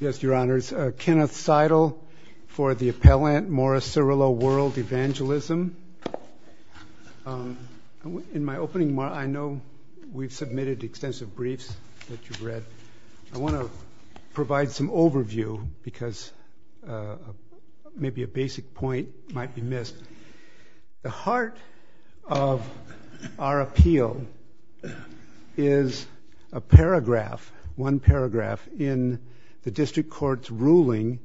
Yes, Your Honors, Kenneth Seidel for the appellant, Morris Cerullo WorldEvangelism. In my opening, I know we've submitted extensive briefs that you've read. I want to provide some overview, because maybe a basic point might be missed. The heart of our appeal is a paragraph, one paragraph, in the district court's ruling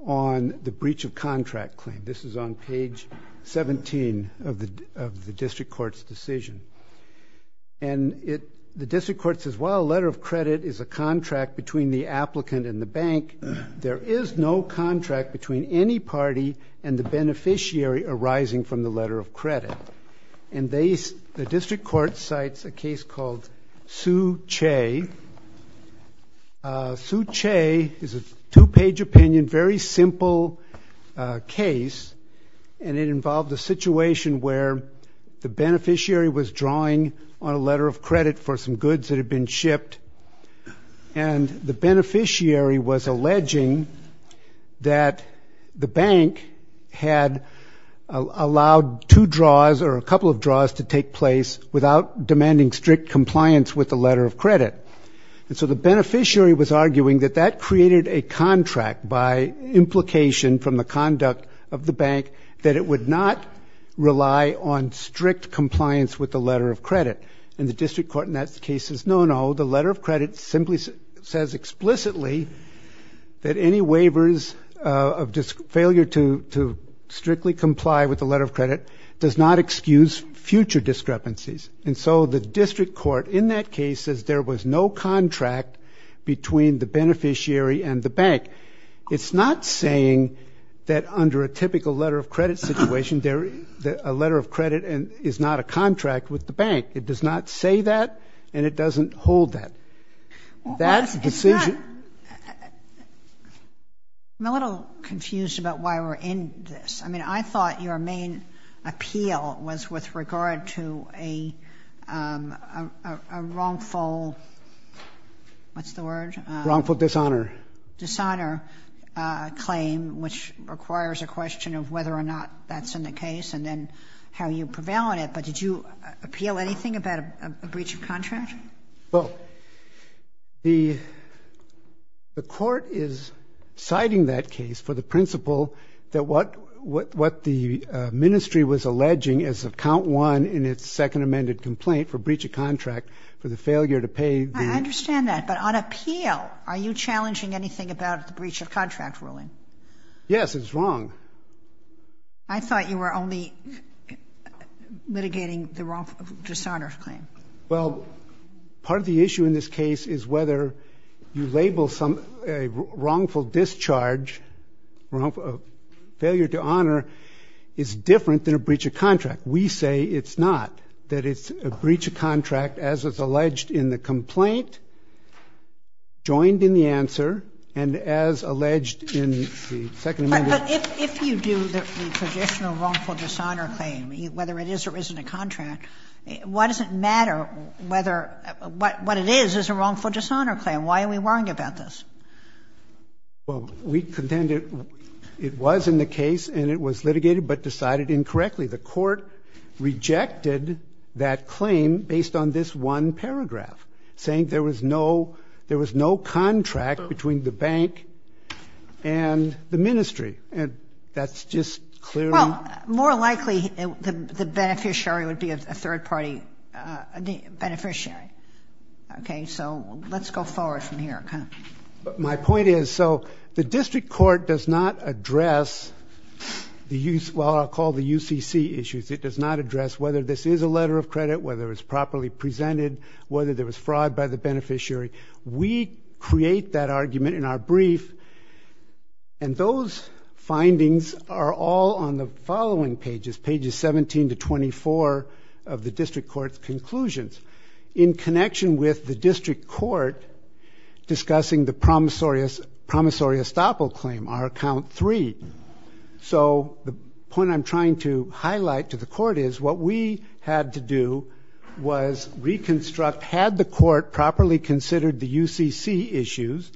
on the breach of contract claim. This is on page 17 of the district court's decision. And the district court says, while a letter of credit is a contract between the applicant and the bank, there is no contract between any party and the beneficiary arising from the letter of credit. And the district court cites a case called Sue Che. Sue Che is a two-page opinion, very simple case. And it involved a situation where the beneficiary was drawing on a letter of credit for some goods that had been shipped. And the beneficiary was alleging that the bank had allowed two draws or a couple of draws to take place without demanding strict compliance with the letter of credit. And so the beneficiary was arguing that that created a contract by implication from the conduct of the bank that it would not rely on strict compliance with the letter of credit. And the district court in that case says, no, no. The letter of credit simply says explicitly that any waivers of failure to strictly comply with the letter of credit does not excuse future discrepancies. And so the district court in that case says there was no contract between the beneficiary and the bank. It's not saying that under a typical letter of credit situation, a letter of credit is not a contract with the bank. It does not say that. And it doesn't hold that. That's the decision. It's not. I'm a little confused about why we're in this. I mean, I thought your main appeal was with regard to a wrongful, what's the word? Wrongful dishonor. Dishonor claim, which requires a question of whether or not that's in the case and then how you prevail on it. But did you appeal anything about a breach of contract? Well, the court is citing that case for the principle that what the ministry was alleging as of count one in its second amended complaint for breach of contract for the failure to pay the. I understand that. But on appeal, are you challenging anything about the breach of contract ruling? Yes, it's wrong. I thought you were only mitigating the wrongful dishonor claim. Well, part of the issue in this case is whether you label a wrongful discharge, failure to honor, is different than a breach of contract. We say it's not. That it's a breach of contract as is alleged in the complaint, joined in the answer, and as alleged in the second amendment. But if you do the traditional wrongful dishonor claim, whether it is or isn't a contract, why does it matter whether what it is is a wrongful dishonor claim? Why are we worrying about this? Well, we contend it was in the case and it was litigated but decided incorrectly. The court rejected that claim based on this one paragraph, saying there was no contract between the bank and the ministry. And that's just clearly. Well, more likely, the beneficiary would be a third party beneficiary. So let's go forward from here. My point is, so the district court does not address the use, well, I'll call the UCC issues. It does not address whether this is a letter of credit, whether it's properly presented, whether there was fraud by the beneficiary. We create that argument in our brief. And those findings are all on the following pages, pages 17 to 24 of the district court's conclusions. In connection with the district court discussing the promissory estoppel claim, our count three. So the point I'm trying to highlight to the court is what we had to do was reconstruct, had the court properly considered the UCC issues,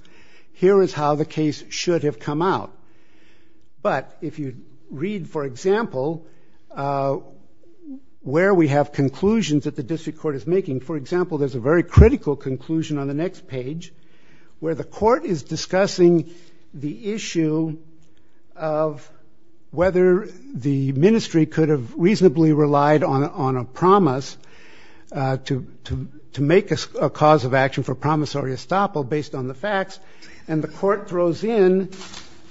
here is how the case should have come out. But if you read, for example, where we have conclusions that the district court is making, for example, there's a very critical conclusion on the next page, where the court is discussing the issue of whether the ministry could have reasonably relied on a promise to make a cause of action for promissory estoppel based on the facts. And the court throws in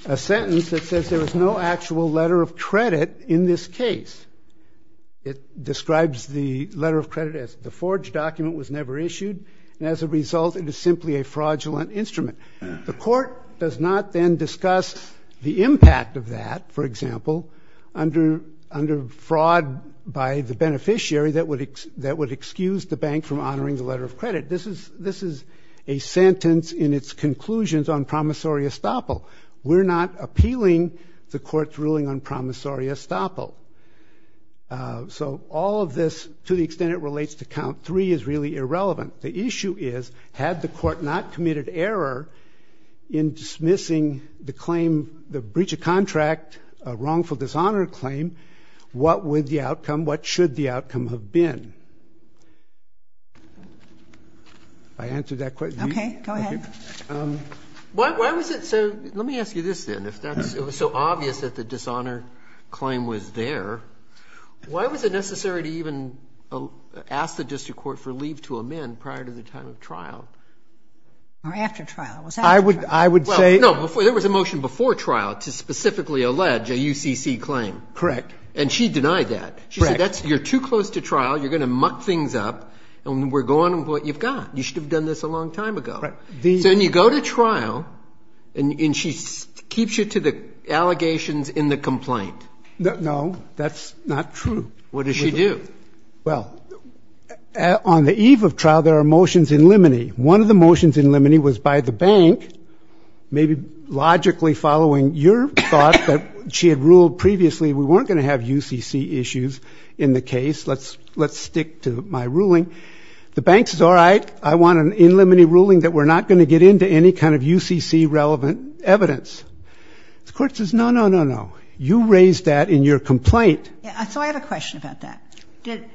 a sentence that says there is no actual letter of credit in this case. It describes the letter of credit as the forged document was never issued. And as a result, it is simply a fraudulent instrument. The court does not then discuss the impact of that, for example, under fraud by the beneficiary that would excuse the bank from honoring the letter of credit. This is a sentence in its conclusions on promissory estoppel. We're not appealing the court's ruling on promissory estoppel. So all of this, to the extent it relates to count three, is really irrelevant. The issue is, had the court not committed error in dismissing the breach of contract, a wrongful dishonor claim, what should the outcome have been? I answered that question. OK, go ahead. Why was it so, let me ask you this then, if it was so obvious that the dishonor claim was there, why was it necessary to even ask the district court for leave to amend prior to the time of trial? Or after trial, it was after trial. I would say. No, there was a motion before trial to specifically allege a UCC claim. Correct. And she denied that. She said, you're too close to trial, you're going to muck things up, and we're going to go on with what you've got. You should have done this a long time ago. So then you go to trial, and she keeps you to the allegations in the complaint. No, that's not true. What does she do? Well, on the eve of trial, there are motions in limine. One of the motions in limine was by the bank, maybe logically following your thought that she had ruled previously we weren't going to have UCC issues in the case. Let's stick to my ruling. The bank says, all right, I want an in limine ruling that we're not going to get into any kind of UCC relevant evidence. The court says, no, no, no, no. You raised that in your complaint. So I have a question about that.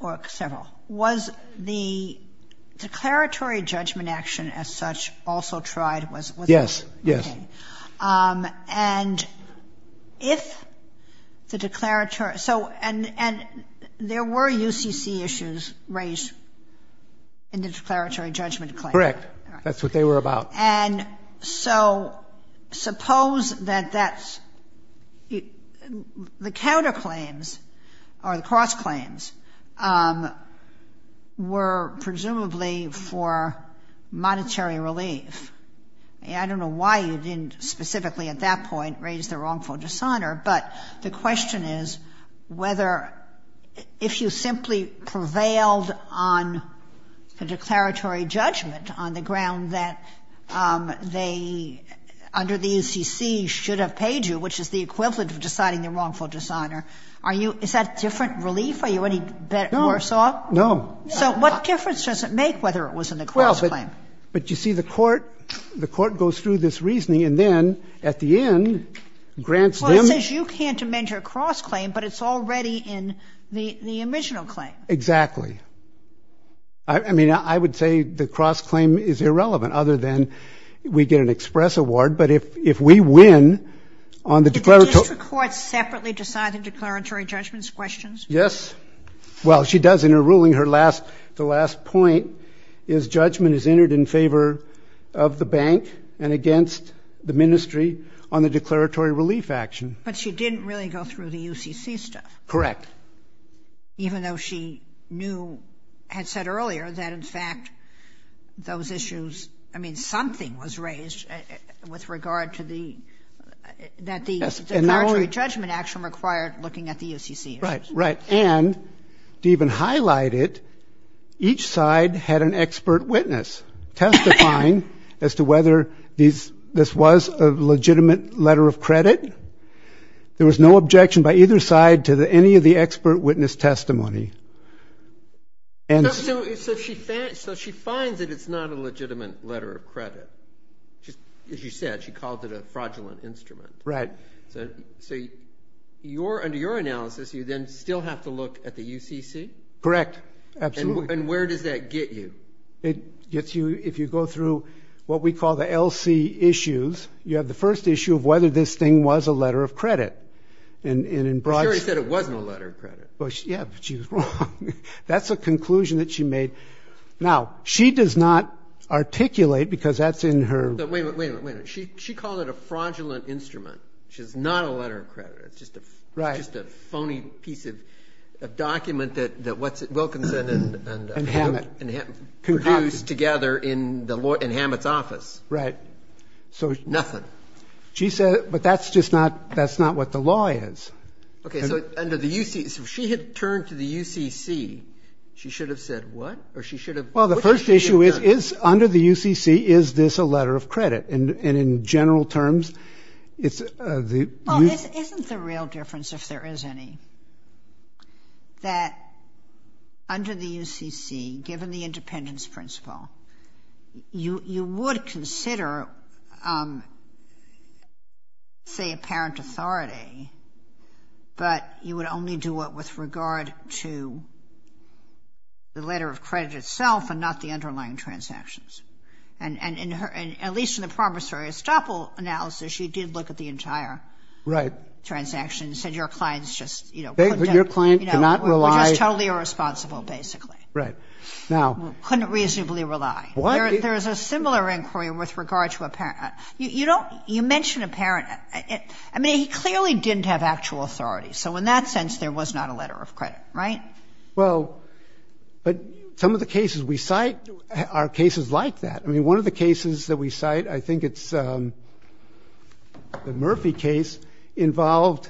Or several. Was the declaratory judgment action as such also tried? Yes, yes. OK. And if the declaratory, so and there were UCC issues raised in the declaratory judgment claim. Correct. That's what they were about. And so suppose that that's, the counterclaims or the cross-claims were presumably for monetary relief. I don't know why you didn't specifically at that point raise the wrongful dishonor. But the question is whether, if you simply prevailed on the declaratory judgment on the ground that they, under the UCC, should have paid you, which is the equivalent of deciding the wrongful dishonor, are you, is that different relief? Are you any worse off? No. So what difference does it make whether it was in the cross-claim? But you see the court, the court goes through this reasoning and then, at the end, grants them. Well, it says you can't amend your cross-claim, but it's already in the original claim. Exactly. I mean, I would say the cross-claim is irrelevant, other than we get an express award. But if we win on the declaratory. Did the district court separately decide the declaratory judgment's questions? Yes. Well, she does in her ruling. The last point is judgment is entered in favor of the bank and against the ministry on the declaratory relief action. But she didn't really go through the UCC stuff. Correct. Even though she had said earlier that, in fact, those issues, I mean, something was raised with regard to the declaratory judgment action required looking at the UCC issues. Right, right. And to even highlight it, each side had an expert witness testifying as to whether this was a legitimate letter of credit. There was no objection by either side to any of the expert witness testimony. And so she finds that it's not a legitimate letter of credit. As you said, she called it a fraudulent instrument. Right. So under your analysis, you then still have to look at the UCC? Correct. Absolutely. And where does that get you? It gets you if you go through what we call the LC issues. You have the first issue of whether this thing was a letter of credit. And in broad terms. You said it wasn't a letter of credit. Yeah, but she was wrong. That's a conclusion that she made. Now, she does not articulate, because that's in her. She called it a fraudulent instrument. She says it's not a letter of credit. It's just a phony piece of document that Wilkinson and Hammett produced together in Hammett's office. Right. So nothing. She said, but that's just not what the law is. OK, so she had turned to the UCC. She should have said what? Or she should have? Well, the first issue is, under the UCC, is this a letter of credit? And in general terms, it's the UCC. Well, isn't the real difference, if there is any, that under the UCC, given the independence principle, you would consider, say, apparent authority. But you would only do it with regard to the letter of credit itself and not the underlying transactions. And at least in the promissory estoppel analysis, she did look at the entire transaction and said your client's just, you know, Your client cannot rely. Just totally irresponsible, basically. Right. Now. Couldn't reasonably rely. There is a similar inquiry with regard to a parent. You don't, you mentioned a parent. I mean, he clearly didn't have actual authority. So in that sense, there was not a letter of credit, right? Well, but some of the cases we cite are cases like that. I mean, one of the cases that we cite, I think it's the Murphy case, involved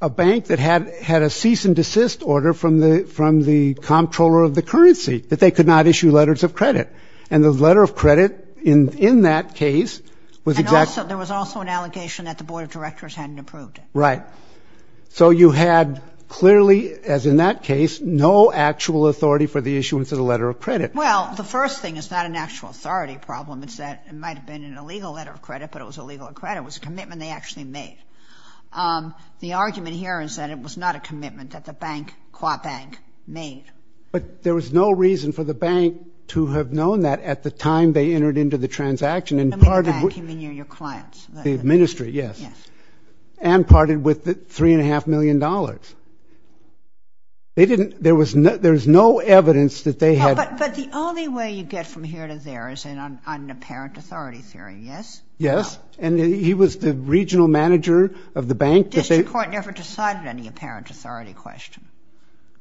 a bank that had a cease and desist order from the comptroller of the currency, that they could not issue letters of credit. And the letter of credit in that case was exact. There was also an allegation that the board of directors hadn't approved it. Right. So you had clearly, as in that case, no actual authority for the issuance of the letter of credit. Well, the first thing is not an actual authority problem. It's that it might have been an illegal letter of credit, but it was illegal credit. It was a commitment they actually made. The argument here is that it was not a commitment that the bank, Qua Bank, made. But there was no reason for the bank to have known that at the time they entered into the transaction and parted with. I mean, the bank, I mean, your clients. The ministry, yes. And parted with the $3.5 million. They didn't, there was no evidence that they had. But the only way you get from here to there, is in an apparent authority theory, yes? Yes. And he was the regional manager of the bank. District court never decided any apparent authority question.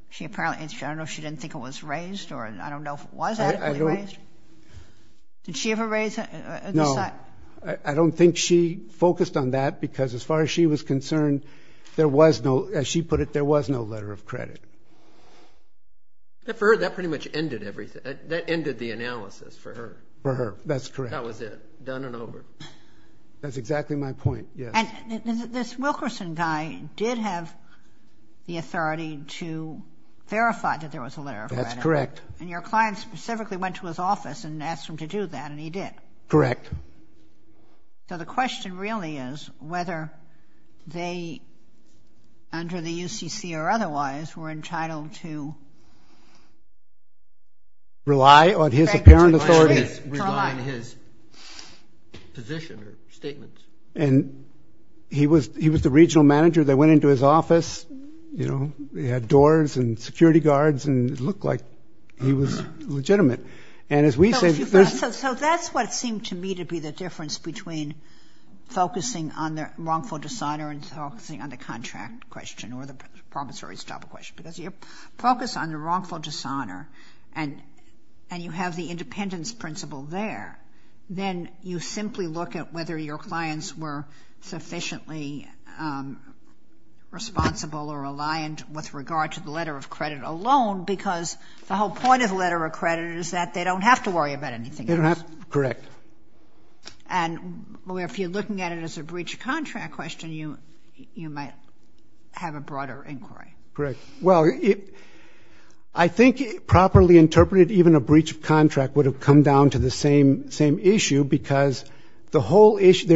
She apparently, I don't know if she didn't think it was raised, or I don't know if it was adequately raised. Did she ever raise it? No. I don't think she focused on that, because as far as she was concerned, there was no, as she put it, there was no letter of credit. For her, that pretty much ended everything. That ended the analysis for her. For her, that's correct. That was it. Done and over. That's exactly my point, yes. This Wilkerson guy did have the authority to verify that there was a letter of credit. That's correct. And your client specifically went to his office and asked him to do that, and he did. Correct. So the question really is whether they, under the UCC or otherwise, were entitled to Rely on his apparent authority. Rely on his position or statements. And he was the regional manager that went into his office, you know, he had doors and security guards, and it looked like he was legitimate. And as we say, there's So that's what seemed to me to be the difference between focusing on the wrongful decider and focusing on the contract question or the promissory stop question. Because you focus on the wrongful dishonor and you have the independence principle there, then you simply look at whether your clients were sufficiently responsible or reliant with regard to the letter of credit alone because the whole point of the letter of credit is that they don't have to worry about anything else. They don't have to, correct. And if you're looking at it as a breach of contract question, you might have a broader inquiry. Correct. Well, I think properly interpreted, even a breach of contract would have come down to the same issue because the whole issue, there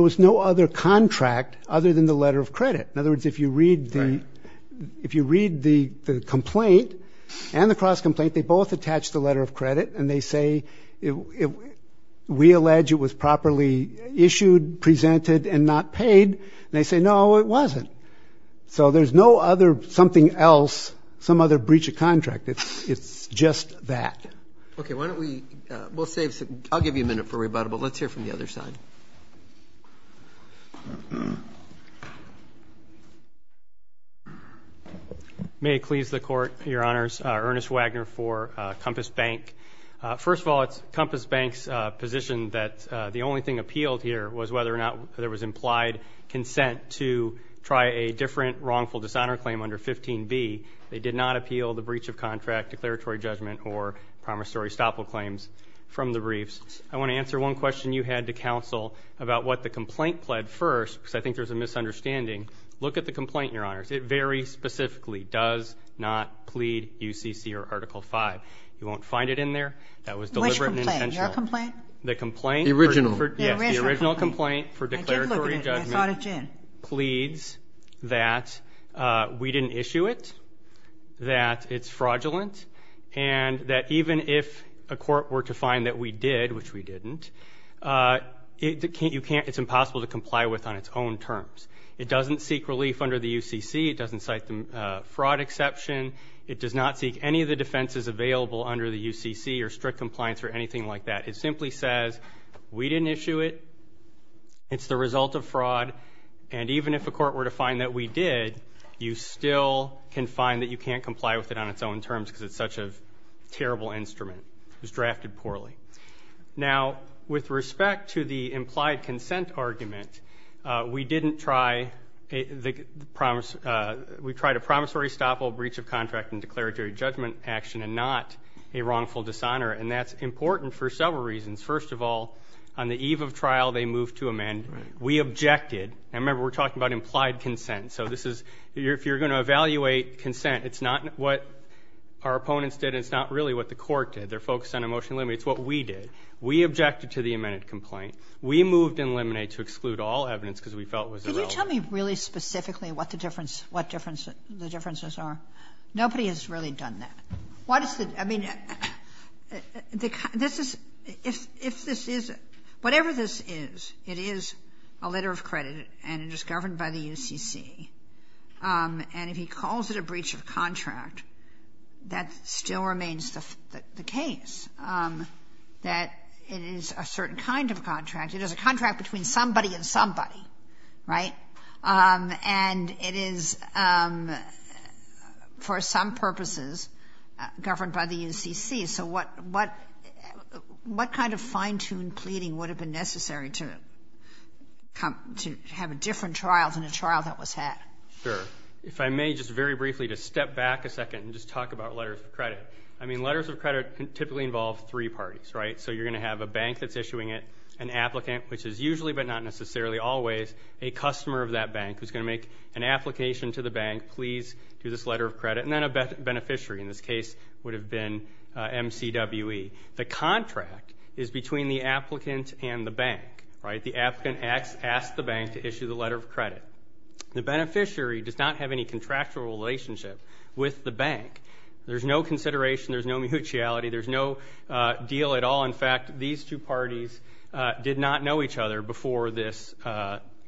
was no other contract other than the letter of credit. In other words, if you read the complaint and the cross complaint, they both attach the letter of credit and they say, we allege it was properly issued, presented and not paid. And they say, no, it wasn't. So there's no other something else, some other breach of contract. It's just that. Okay, why don't we, we'll save, I'll give you a minute for rebuttable. Let's hear from the other side. May it please the court, your honors, Ernest Wagner for Compass Bank. First of all, it's Compass Bank's position that the only thing appealed here was whether or not there was implied consent to try a different wrongful dishonor claim under 15B. They did not appeal the breach of contract, declaratory judgment or promissory stopple claims from the briefs. I want to answer one question you had to counsel about what the complaint pled first, because I think there's a misunderstanding. Look at the complaint, your honors. It very specifically does not plead UCC or Article V. You won't find it in there. That was deliberate and intentional. Which complaint, your complaint? The complaint. The original. Yes, the original complaint for declaratory judgment pleads that we didn't issue it, that it's fraudulent, and that even if a court were to find that we did, which we didn't, it's impossible to comply with on its own terms. It doesn't seek relief under the UCC. It doesn't cite the fraud exception. It does not seek any of the defenses available under the UCC or strict compliance or anything like that. It simply says we didn't issue it, it's the result of fraud, and even if a court were to find that we did, you still can find that you can't comply with it on its own terms because it's such a terrible instrument. It was drafted poorly. Now, with respect to the implied consent argument, we didn't try, we tried a promissory stopple, breach of contract and declaratory judgment action and not a wrongful dishonor, and that's important for several reasons. First of all, on the eve of trial, they moved to amend. We objected, and remember, we're talking about implied consent, so this is, if you're gonna evaluate consent, it's not what our opponents did, it's not really what the court did. They're focused on a motion to eliminate, it's what we did. We objected to the amended complaint. We moved to eliminate to exclude all evidence because we felt it was irrelevant. Can you tell me really specifically what the differences are? Nobody has really done that. What is the, I mean, this is, if this is, whatever this is, it is a letter of credit and it is governed by the UCC, and if he calls it a breach of contract, that still remains the case, that it is a certain kind of contract. It is a contract between somebody and somebody, right? And it is, for some purposes, governed by the UCC, so what kind of fine-tuned pleading would have been necessary to have a different trial than a trial that was had? Sure, if I may, just very briefly, to step back a second and just talk about letters of credit. I mean, letters of credit typically involve three parties, right? So you're gonna have a bank that's issuing it, an applicant, which is usually, but not necessarily always, a customer of that bank who's gonna make an application to the bank, please do this letter of credit, and then a beneficiary, in this case, would have been MCWE. The contract is between the applicant and the bank, right? The applicant asks the bank to issue the letter of credit. The beneficiary does not have any contractual relationship with the bank. There's no consideration, there's no mutuality, there's no deal at all. In fact, these two parties did not know each other before this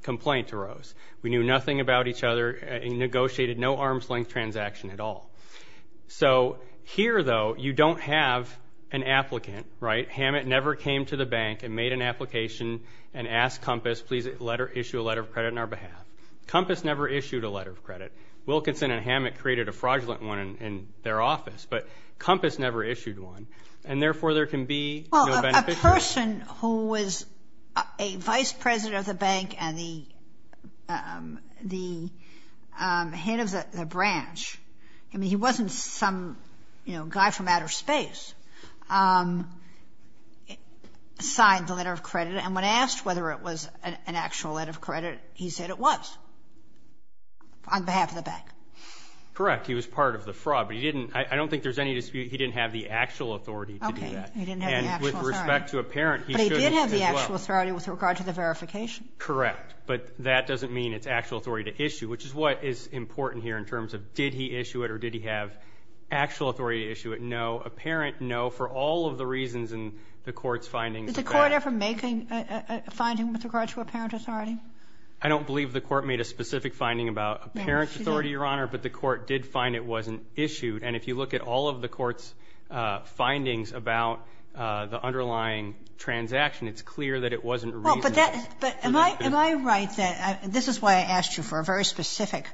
complaint arose. We knew nothing about each other, and negotiated no arm's-length transaction at all. So here, though, you don't have an applicant, right? Hammett never came to the bank and made an application and asked Compass, please issue a letter of credit on our behalf. Compass never issued a letter of credit. Wilkinson and Hammett created a fraudulent one in their office, but Compass never issued one, and therefore, there can be no beneficiary. The person who was a vice president of the bank and the head of the branch, I mean, he wasn't some guy from outer space, signed the letter of credit, and when asked whether it was an actual letter of credit, he said it was, on behalf of the bank. Correct, he was part of the fraud, but he didn't, I don't think there's any dispute, he didn't have the actual authority to do that. Okay, he didn't have the actual authority. With respect to a parent, he shouldn't, as well. But he did have the actual authority with regard to the verification. Correct, but that doesn't mean it's actual authority to issue, which is what is important here in terms of, did he issue it or did he have actual authority to issue it? No, apparent no, for all of the reasons in the court's findings. Did the court ever make a finding with regard to apparent authority? I don't believe the court made a specific finding about apparent authority, Your Honor, but the court did find it wasn't issued, and if you look at all of the court's findings about the underlying transaction, it's clear that it wasn't a reasonable position. But am I right that, this is why I asked you for a very specific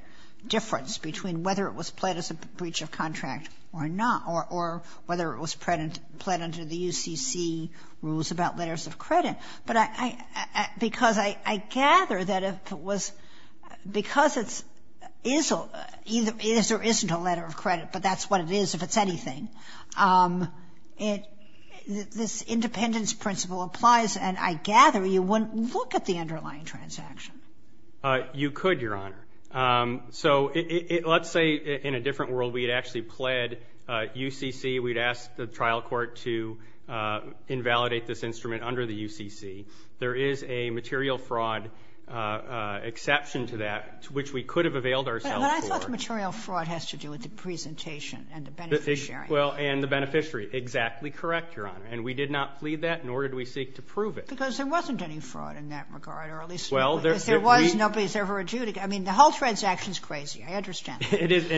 difference between whether it was pled as a breach of contract or not, or whether it was pled under the UCC rules about letters of credit. But I, because I gather that if it was, because it's, is or isn't a letter of credit, but that's what it is if it's anything, it, this independence principle applies, and I gather you wouldn't look at the underlying transaction. You could, Your Honor. So let's say in a different world, we had actually pled UCC, we'd asked the trial court to invalidate this instrument under the UCC. There is a material fraud exception to that, which we could have availed ourselves for. But I thought material fraud has to do with the presentation and the benefit sharing. Well, and the beneficiary. Exactly correct, Your Honor. And we did not plead that, nor did we seek to prove it. Because there wasn't any fraud in that regard, or at least, there was, nobody's ever adjudicated. I mean, the whole transaction's crazy, I understand. It is.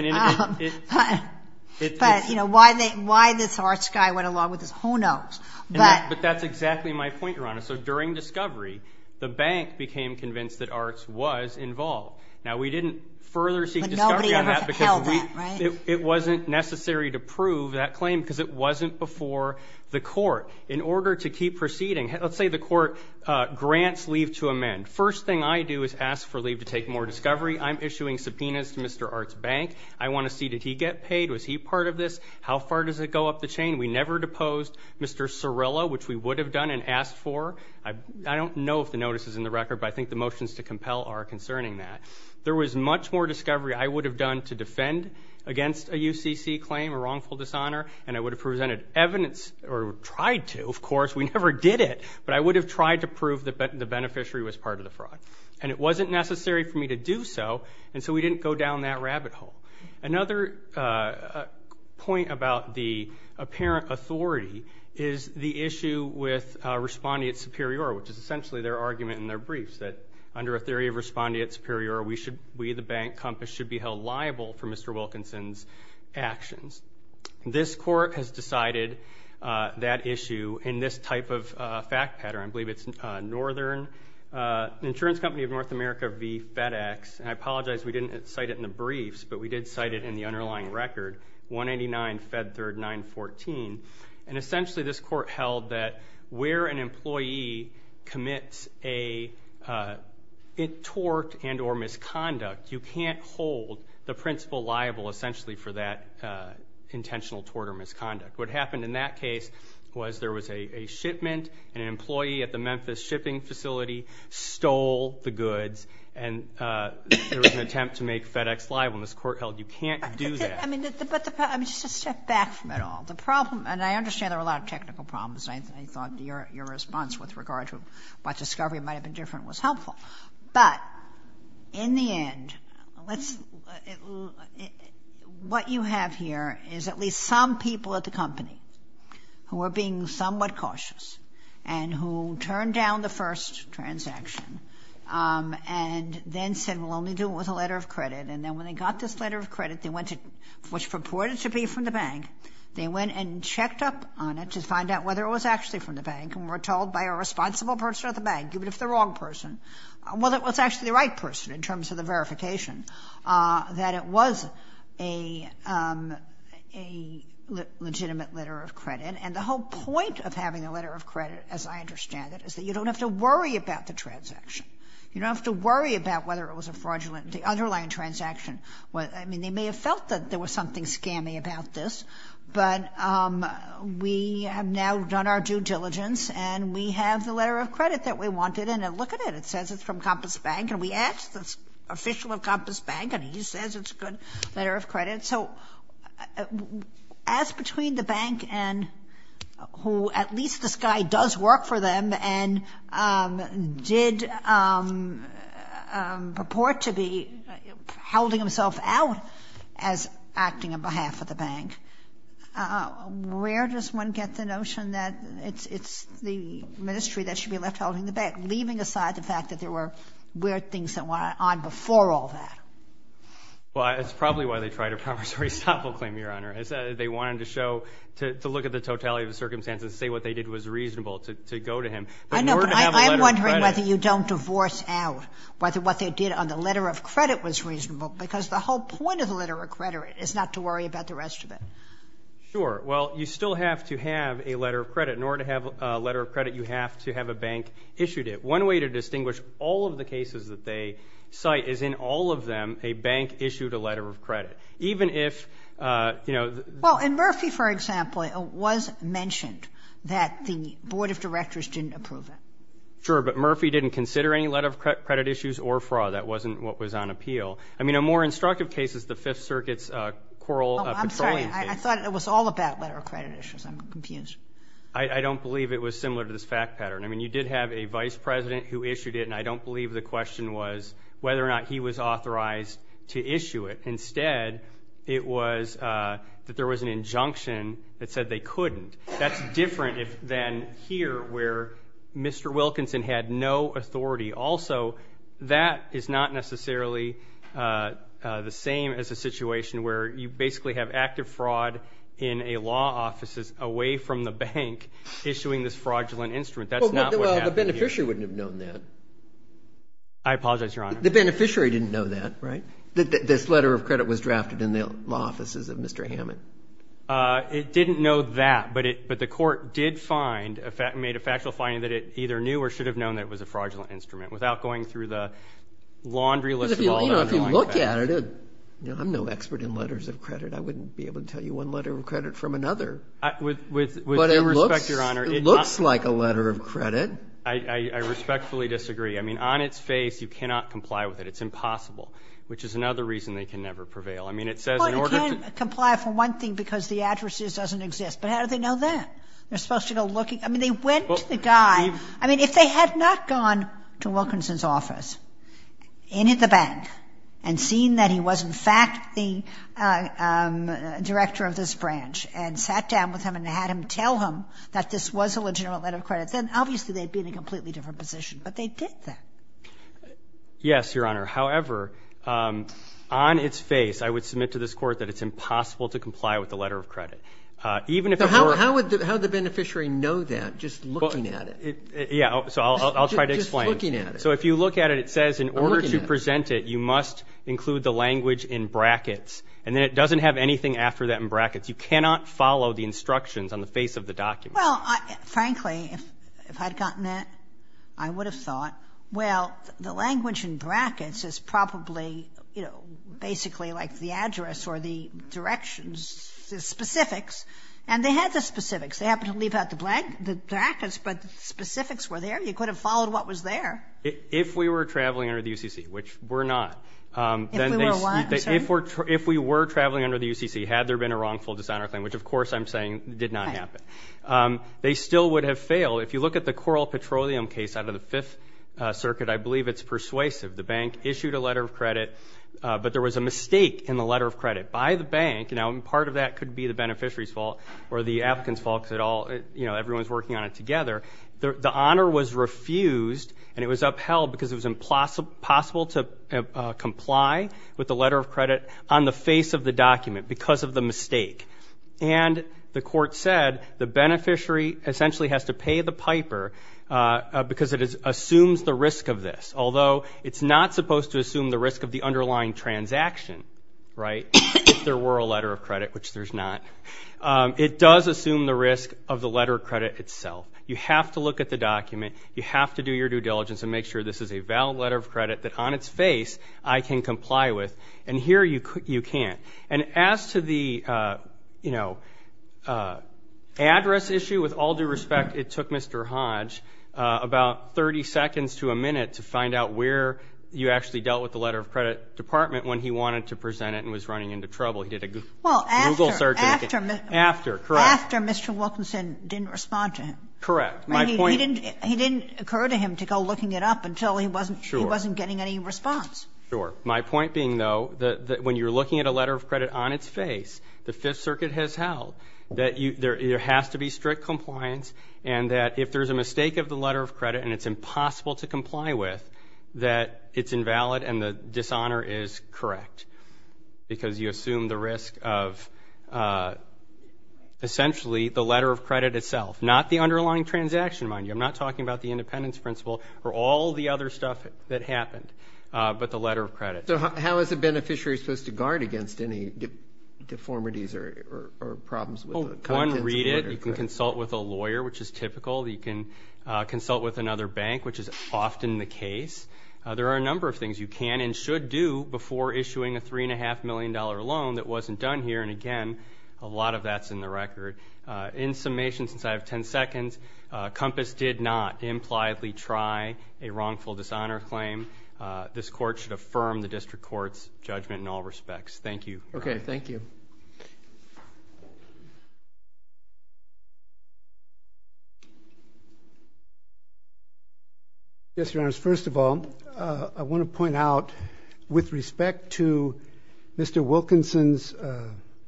But, you know, why this Arts guy went along with this, who knows. But that's exactly my point, Your Honor. So during discovery, the bank became convinced that Arts was involved. Now, we didn't further seek discovery on that because it wasn't necessary to prove that claim because it wasn't before the court. In order to keep proceeding, let's say the court grants leave to amend. First thing I do is ask for leave to take more discovery. I'm issuing subpoenas to Mr. Arts' bank. I want to see, did he get paid? Was he part of this? How far does it go up the chain? We never deposed Mr. Cirillo, which we would have done and asked for. I don't know if the notice is in the record, but I think the motions to compel are concerning that. There was much more discovery I would have done to defend against a UCC claim, a wrongful dishonor, and I would have presented evidence, or tried to, of course, we never did it, but I would have tried to prove that the beneficiary was part of the fraud. And it wasn't necessary for me to do so, and so we didn't go down that rabbit hole. Another point about the apparent authority is the issue with respondeat superior, which is essentially their argument in their briefs that under a theory of respondeat superior, we, the bank compass, should be held liable for Mr. Wilkinson's actions. This court has decided that issue in this type of fact pattern. I believe it's Northern Insurance Company of North America v. FedEx, and I apologize we didn't cite it in the briefs, but we did cite it in the underlying record, 189 Fed Third 914, and essentially this court held that where an employee commits a tort and or misconduct you can't hold the principal liable, essentially, for that intentional tort or misconduct. What happened in that case was there was a shipment, and an employee at the Memphis shipping facility stole the goods, and there was an attempt to make FedEx liable, and this court held you can't do that. I mean, just to step back from it all, the problem, and I understand there were a lot of technical problems, and I thought your response with regard to what discovery might have been different was helpful, but in the end, what you have here is at least some people at the company who were being somewhat cautious, and who turned down the first transaction, and then said we'll only do it with a letter of credit, and then when they got this letter of credit, they went to, which purported to be from the bank, they went and checked up on it to find out whether it was actually from the bank, and were told by a responsible person at the bank, I'll give it if the wrong person, whether it was actually the right person in terms of the verification, that it was a legitimate letter of credit, and the whole point of having a letter of credit, as I understand it, is that you don't have to worry about the transaction, you don't have to worry about whether it was a fraudulent, the underlying transaction, I mean, they may have felt that there was something scammy about this, but we have now done our due diligence, and we have the letter of credit that we wanted, and look at it, it says it's from Compass Bank, and we asked the official of Compass Bank, and he says it's a good letter of credit, so as between the bank and who, at least this guy does work for them, and did purport to be howling himself out as acting on behalf of the bank, where does one get the notion that it's the ministry that should be left holding the bank, leaving aside the fact that there were weird things that went on before all that? Well, it's probably why they tried a promissory stopful claim, Your Honor, is that they wanted to show, to look at the totality of the circumstances, say what they did was reasonable to go to him, but in order to have a letter of credit. I'm wondering whether you don't divorce out whether what they did on the letter of credit was reasonable, because the whole point of the letter of credit is not to worry about the rest of it. Sure, well, you still have to have a letter of credit. In order to have a letter of credit, you have to have a bank issued it. One way to distinguish all of the cases that they cite is in all of them, a bank issued a letter of credit, even if, you know. Well, in Murphy, for example, it was mentioned that the board of directors didn't approve it. Sure, but Murphy didn't consider any letter of credit issues or fraud, that wasn't what was on appeal. I mean, in more instructive cases, the Fifth Circuit's Coral Petroleum case. Oh, I'm sorry, I thought it was all about letter of credit issues, I'm confused. I don't believe it was similar to this fact pattern. I mean, you did have a vice president who issued it, and I don't believe the question was whether or not he was authorized to issue it. Instead, it was that there was an injunction that said they couldn't. That's different than here, where Mr. Wilkinson had no authority. Also, that is not necessarily the same as a situation where you basically have active fraud in a law offices away from the bank issuing this fraudulent instrument. That's not what happened here. Well, the beneficiary wouldn't have known that. I apologize, Your Honor. The beneficiary didn't know that, right? This letter of credit was drafted in the law offices of Mr. Hammond. It didn't know that, but the court did find, made a factual finding that it either knew or should have known that it was a fraudulent instrument without going through the laundry list of all the underlying facts. If you look at it, I'm no expert in letters of credit. I wouldn't be able to tell you one letter of credit from another. With due respect, Your Honor. It looks like a letter of credit. I respectfully disagree. I mean, on its face, you cannot comply with it. It's impossible, which is another reason they can never prevail. I mean, it says in order to- Well, you can't comply for one thing because the address doesn't exist, but how do they know that? They're supposed to go looking. I mean, they went to the guy. I mean, if they had not gone to Wilkinson's office in the bank and seen that he was, in fact, the director of this branch and sat down with him and had him tell him that this was a legitimate letter of credit, then obviously, they'd be in a completely different position, but they did that. Yes, Your Honor. However, on its face, I would submit to this court that it's impossible to comply with the letter of credit. Even if it were- How would the beneficiary know that, just looking at it? Yeah, so I'll try to explain. Just looking at it. So if you look at it, it says in order to present it, you must include the language in brackets, and then it doesn't have anything after that in brackets. You cannot follow the instructions on the face of the document. Well, frankly, if I'd gotten that, I would have thought, well, the language in brackets is probably, you know, basically like the address or the directions, the specifics, and they had the specifics. They happened to leave out the brackets, but the specifics were there. You could have followed what was there. If we were traveling under the UCC, which we're not. If we were what, I'm sorry? If we were traveling under the UCC, had there been a wrongful dishonor claim, which of course I'm saying did not happen, they still would have failed. If you look at the Coral Petroleum case out of the Fifth Circuit, I believe it's persuasive. The bank issued a letter of credit, but there was a mistake in the letter of credit by the bank, and part of that could be the beneficiary's fault or the applicant's fault, because everyone's working on it together. The honor was refused, and it was upheld because it was impossible to comply with the letter of credit on the face of the document because of the mistake, and the court said the beneficiary essentially has to pay the piper because it assumes the risk of this, although it's not supposed to assume the risk of the underlying transaction, right? If there were a letter of credit, which there's not. It does assume the risk of the letter of credit itself. You have to look at the document. You have to do your due diligence and make sure this is a valid letter of credit that on its face I can comply with, and here you can't, and as to the address issue, with all due respect, it took Mr. Hodge about 30 seconds to a minute to find out where you actually dealt with the letter of credit department when he wanted to present it and was running into trouble. He did a Google search and he couldn't get it. After, correct. Didn't respond to him. Correct. He didn't occur to him to go looking it up until he wasn't getting any response. Sure. My point being, though, that when you're looking at a letter of credit on its face, the Fifth Circuit has held that there has to be strict compliance, and that if there's a mistake of the letter of credit and it's impossible to comply with, that it's invalid and the dishonor is correct because you assume the risk of essentially the letter of credit itself, not the underlying transaction, mind you. I'm not talking about the independence principle or all the other stuff that happened, but the letter of credit. So how is a beneficiary supposed to guard against any deformities or problems with the contents? One, read it. You can consult with a lawyer, which is typical. You can consult with another bank, which is often the case. There are a number of things you can and should do before issuing a $3.5 million loan that wasn't done here, and again, a lot of that's in the record. In summation, since I have 10 seconds, COMPAS did not impliedly try a wrongful dishonor claim. This court should affirm the district court's judgment in all respects. Thank you. Okay, thank you. Yes, Your Honors. First of all, I want to point out, with respect to Mr. Wilkinson's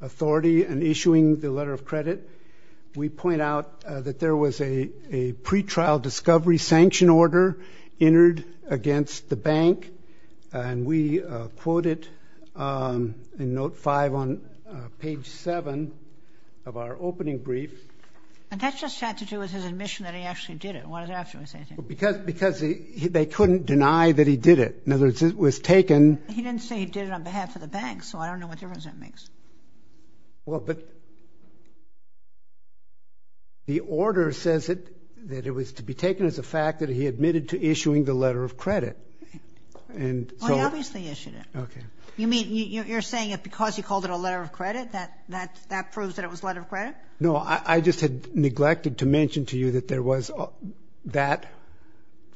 authority in issuing the letter of credit, we point out that there was a pre-trial discovery sanction order entered against the bank, and we quote it in note five on page seven of our opening brief. And that just had to do with his admission that he actually did it. What does it have to do with anything? Because they couldn't deny that he did it. In other words, it was taken. He didn't say he did it on behalf of the bank, so I don't know what difference that makes. Well, but, the order says that it was to be taken as a fact that he admitted to issuing the letter of credit. And so. Well, he obviously issued it. Okay. You mean, you're saying that because he called it a letter of credit, that that proves that it was a letter of credit? No, I just had neglected to mention to you that there was that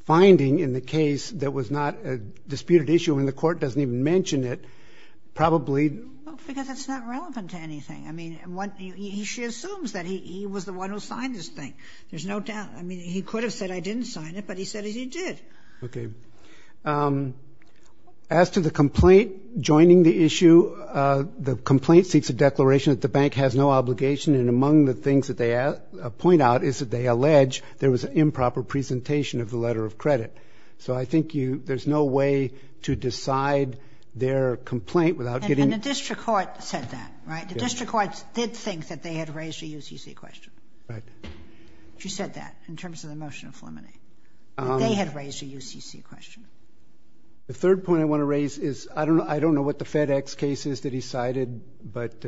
finding in the case that was not a disputed issue and the court doesn't even mention it. Probably. Well, because it's not relevant to anything. I mean, he assumes that he was the one who signed this thing. There's no doubt. I mean, he could have said I didn't sign it, but he said he did. Okay. As to the complaint joining the issue, the complaint seeks a declaration that the bank has no obligation. And among the things that they point out is that they allege there was an improper presentation of the letter of credit. So I think there's no way to decide their complaint without getting- And the district court said that, right? The district courts did think that they had raised a UCC question. Right. She said that in terms of the motion of Fleming. They had raised a UCC question. The third point I want to raise is, I don't know what the FedEx case is that he cited, but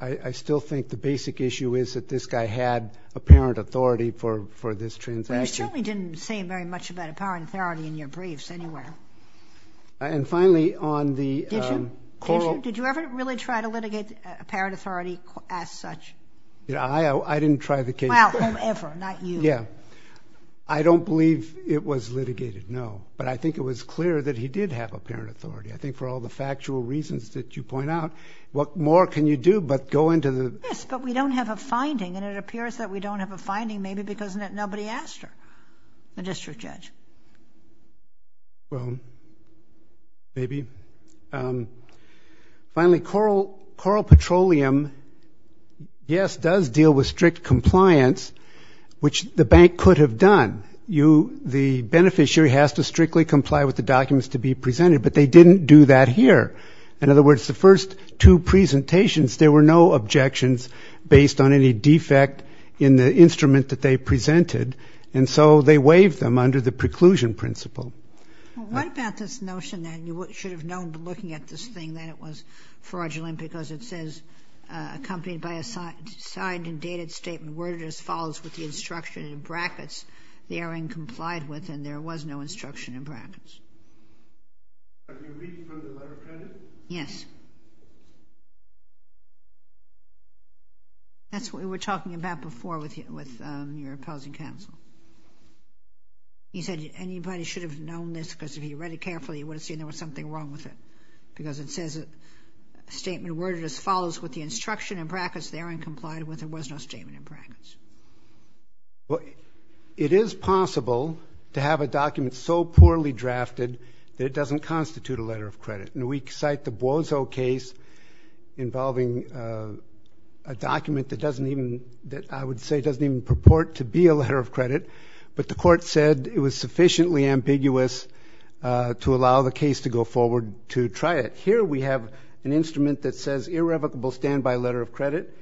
I still think the basic issue is that this guy had apparent authority for this transaction. You certainly didn't say very much about apparent authority in your briefs anywhere. And finally, on the- Did you? Did you ever really try to litigate apparent authority as such? Yeah, I didn't try the case. Wow, whomever, not you. Yeah. I don't believe it was litigated, no. But I think it was clear that he did have apparent authority. I think for all the factual reasons that you point out, what more can you do but go into the- Yes, but we don't have a finding, and it appears that we don't have a finding maybe because nobody asked her, the district judge. Well, maybe. Finally, Coral Petroleum, yes, does deal with strict compliance, which the bank could have done. The beneficiary has to strictly comply with the documents to be presented, but they didn't do that here. In other words, the first two presentations, there were no objections based on any defect in the instrument that they presented, and so they waived them under the preclusion principle. Well, what about this notion that you should have known by looking at this thing that it was fraudulent because it says, accompanied by a signed and dated statement, worded as follows with the instruction in brackets, the heiring complied with, and there was no instruction in brackets. Are you reading from the letter credit? Yes. Okay. That's what we were talking about before with your opposing counsel. He said anybody should have known this because if he read it carefully, he would have seen there was something wrong with it because it says a statement worded as follows with the instruction in brackets, the hearing complied with, and there was no statement in brackets. It is possible to have a document so poorly drafted that it doesn't constitute a letter of credit, and we cite the Bozo case involving a document that I would say doesn't even purport to be a letter of credit, but the court said it was sufficiently ambiguous to allow the case to go forward to try it. Here we have an instrument that says irrevocable standby letter of credit.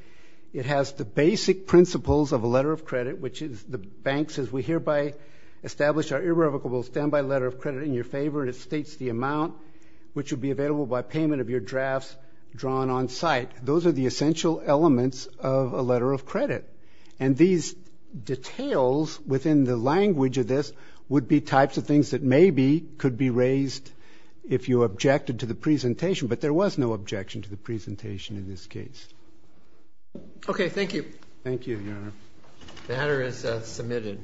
It has the basic principles of a letter of credit, which is the banks, as we hereby establish our irrevocable standby letter of credit in your favor, and it states the amount which would be available by payment of your drafts drawn on site. Those are the essential elements of a letter of credit, and these details within the language of this would be types of things that maybe could be raised if you objected to the presentation, but there was no objection to the presentation in this case. Okay, thank you. Thank you, Your Honor. The matter is submitted.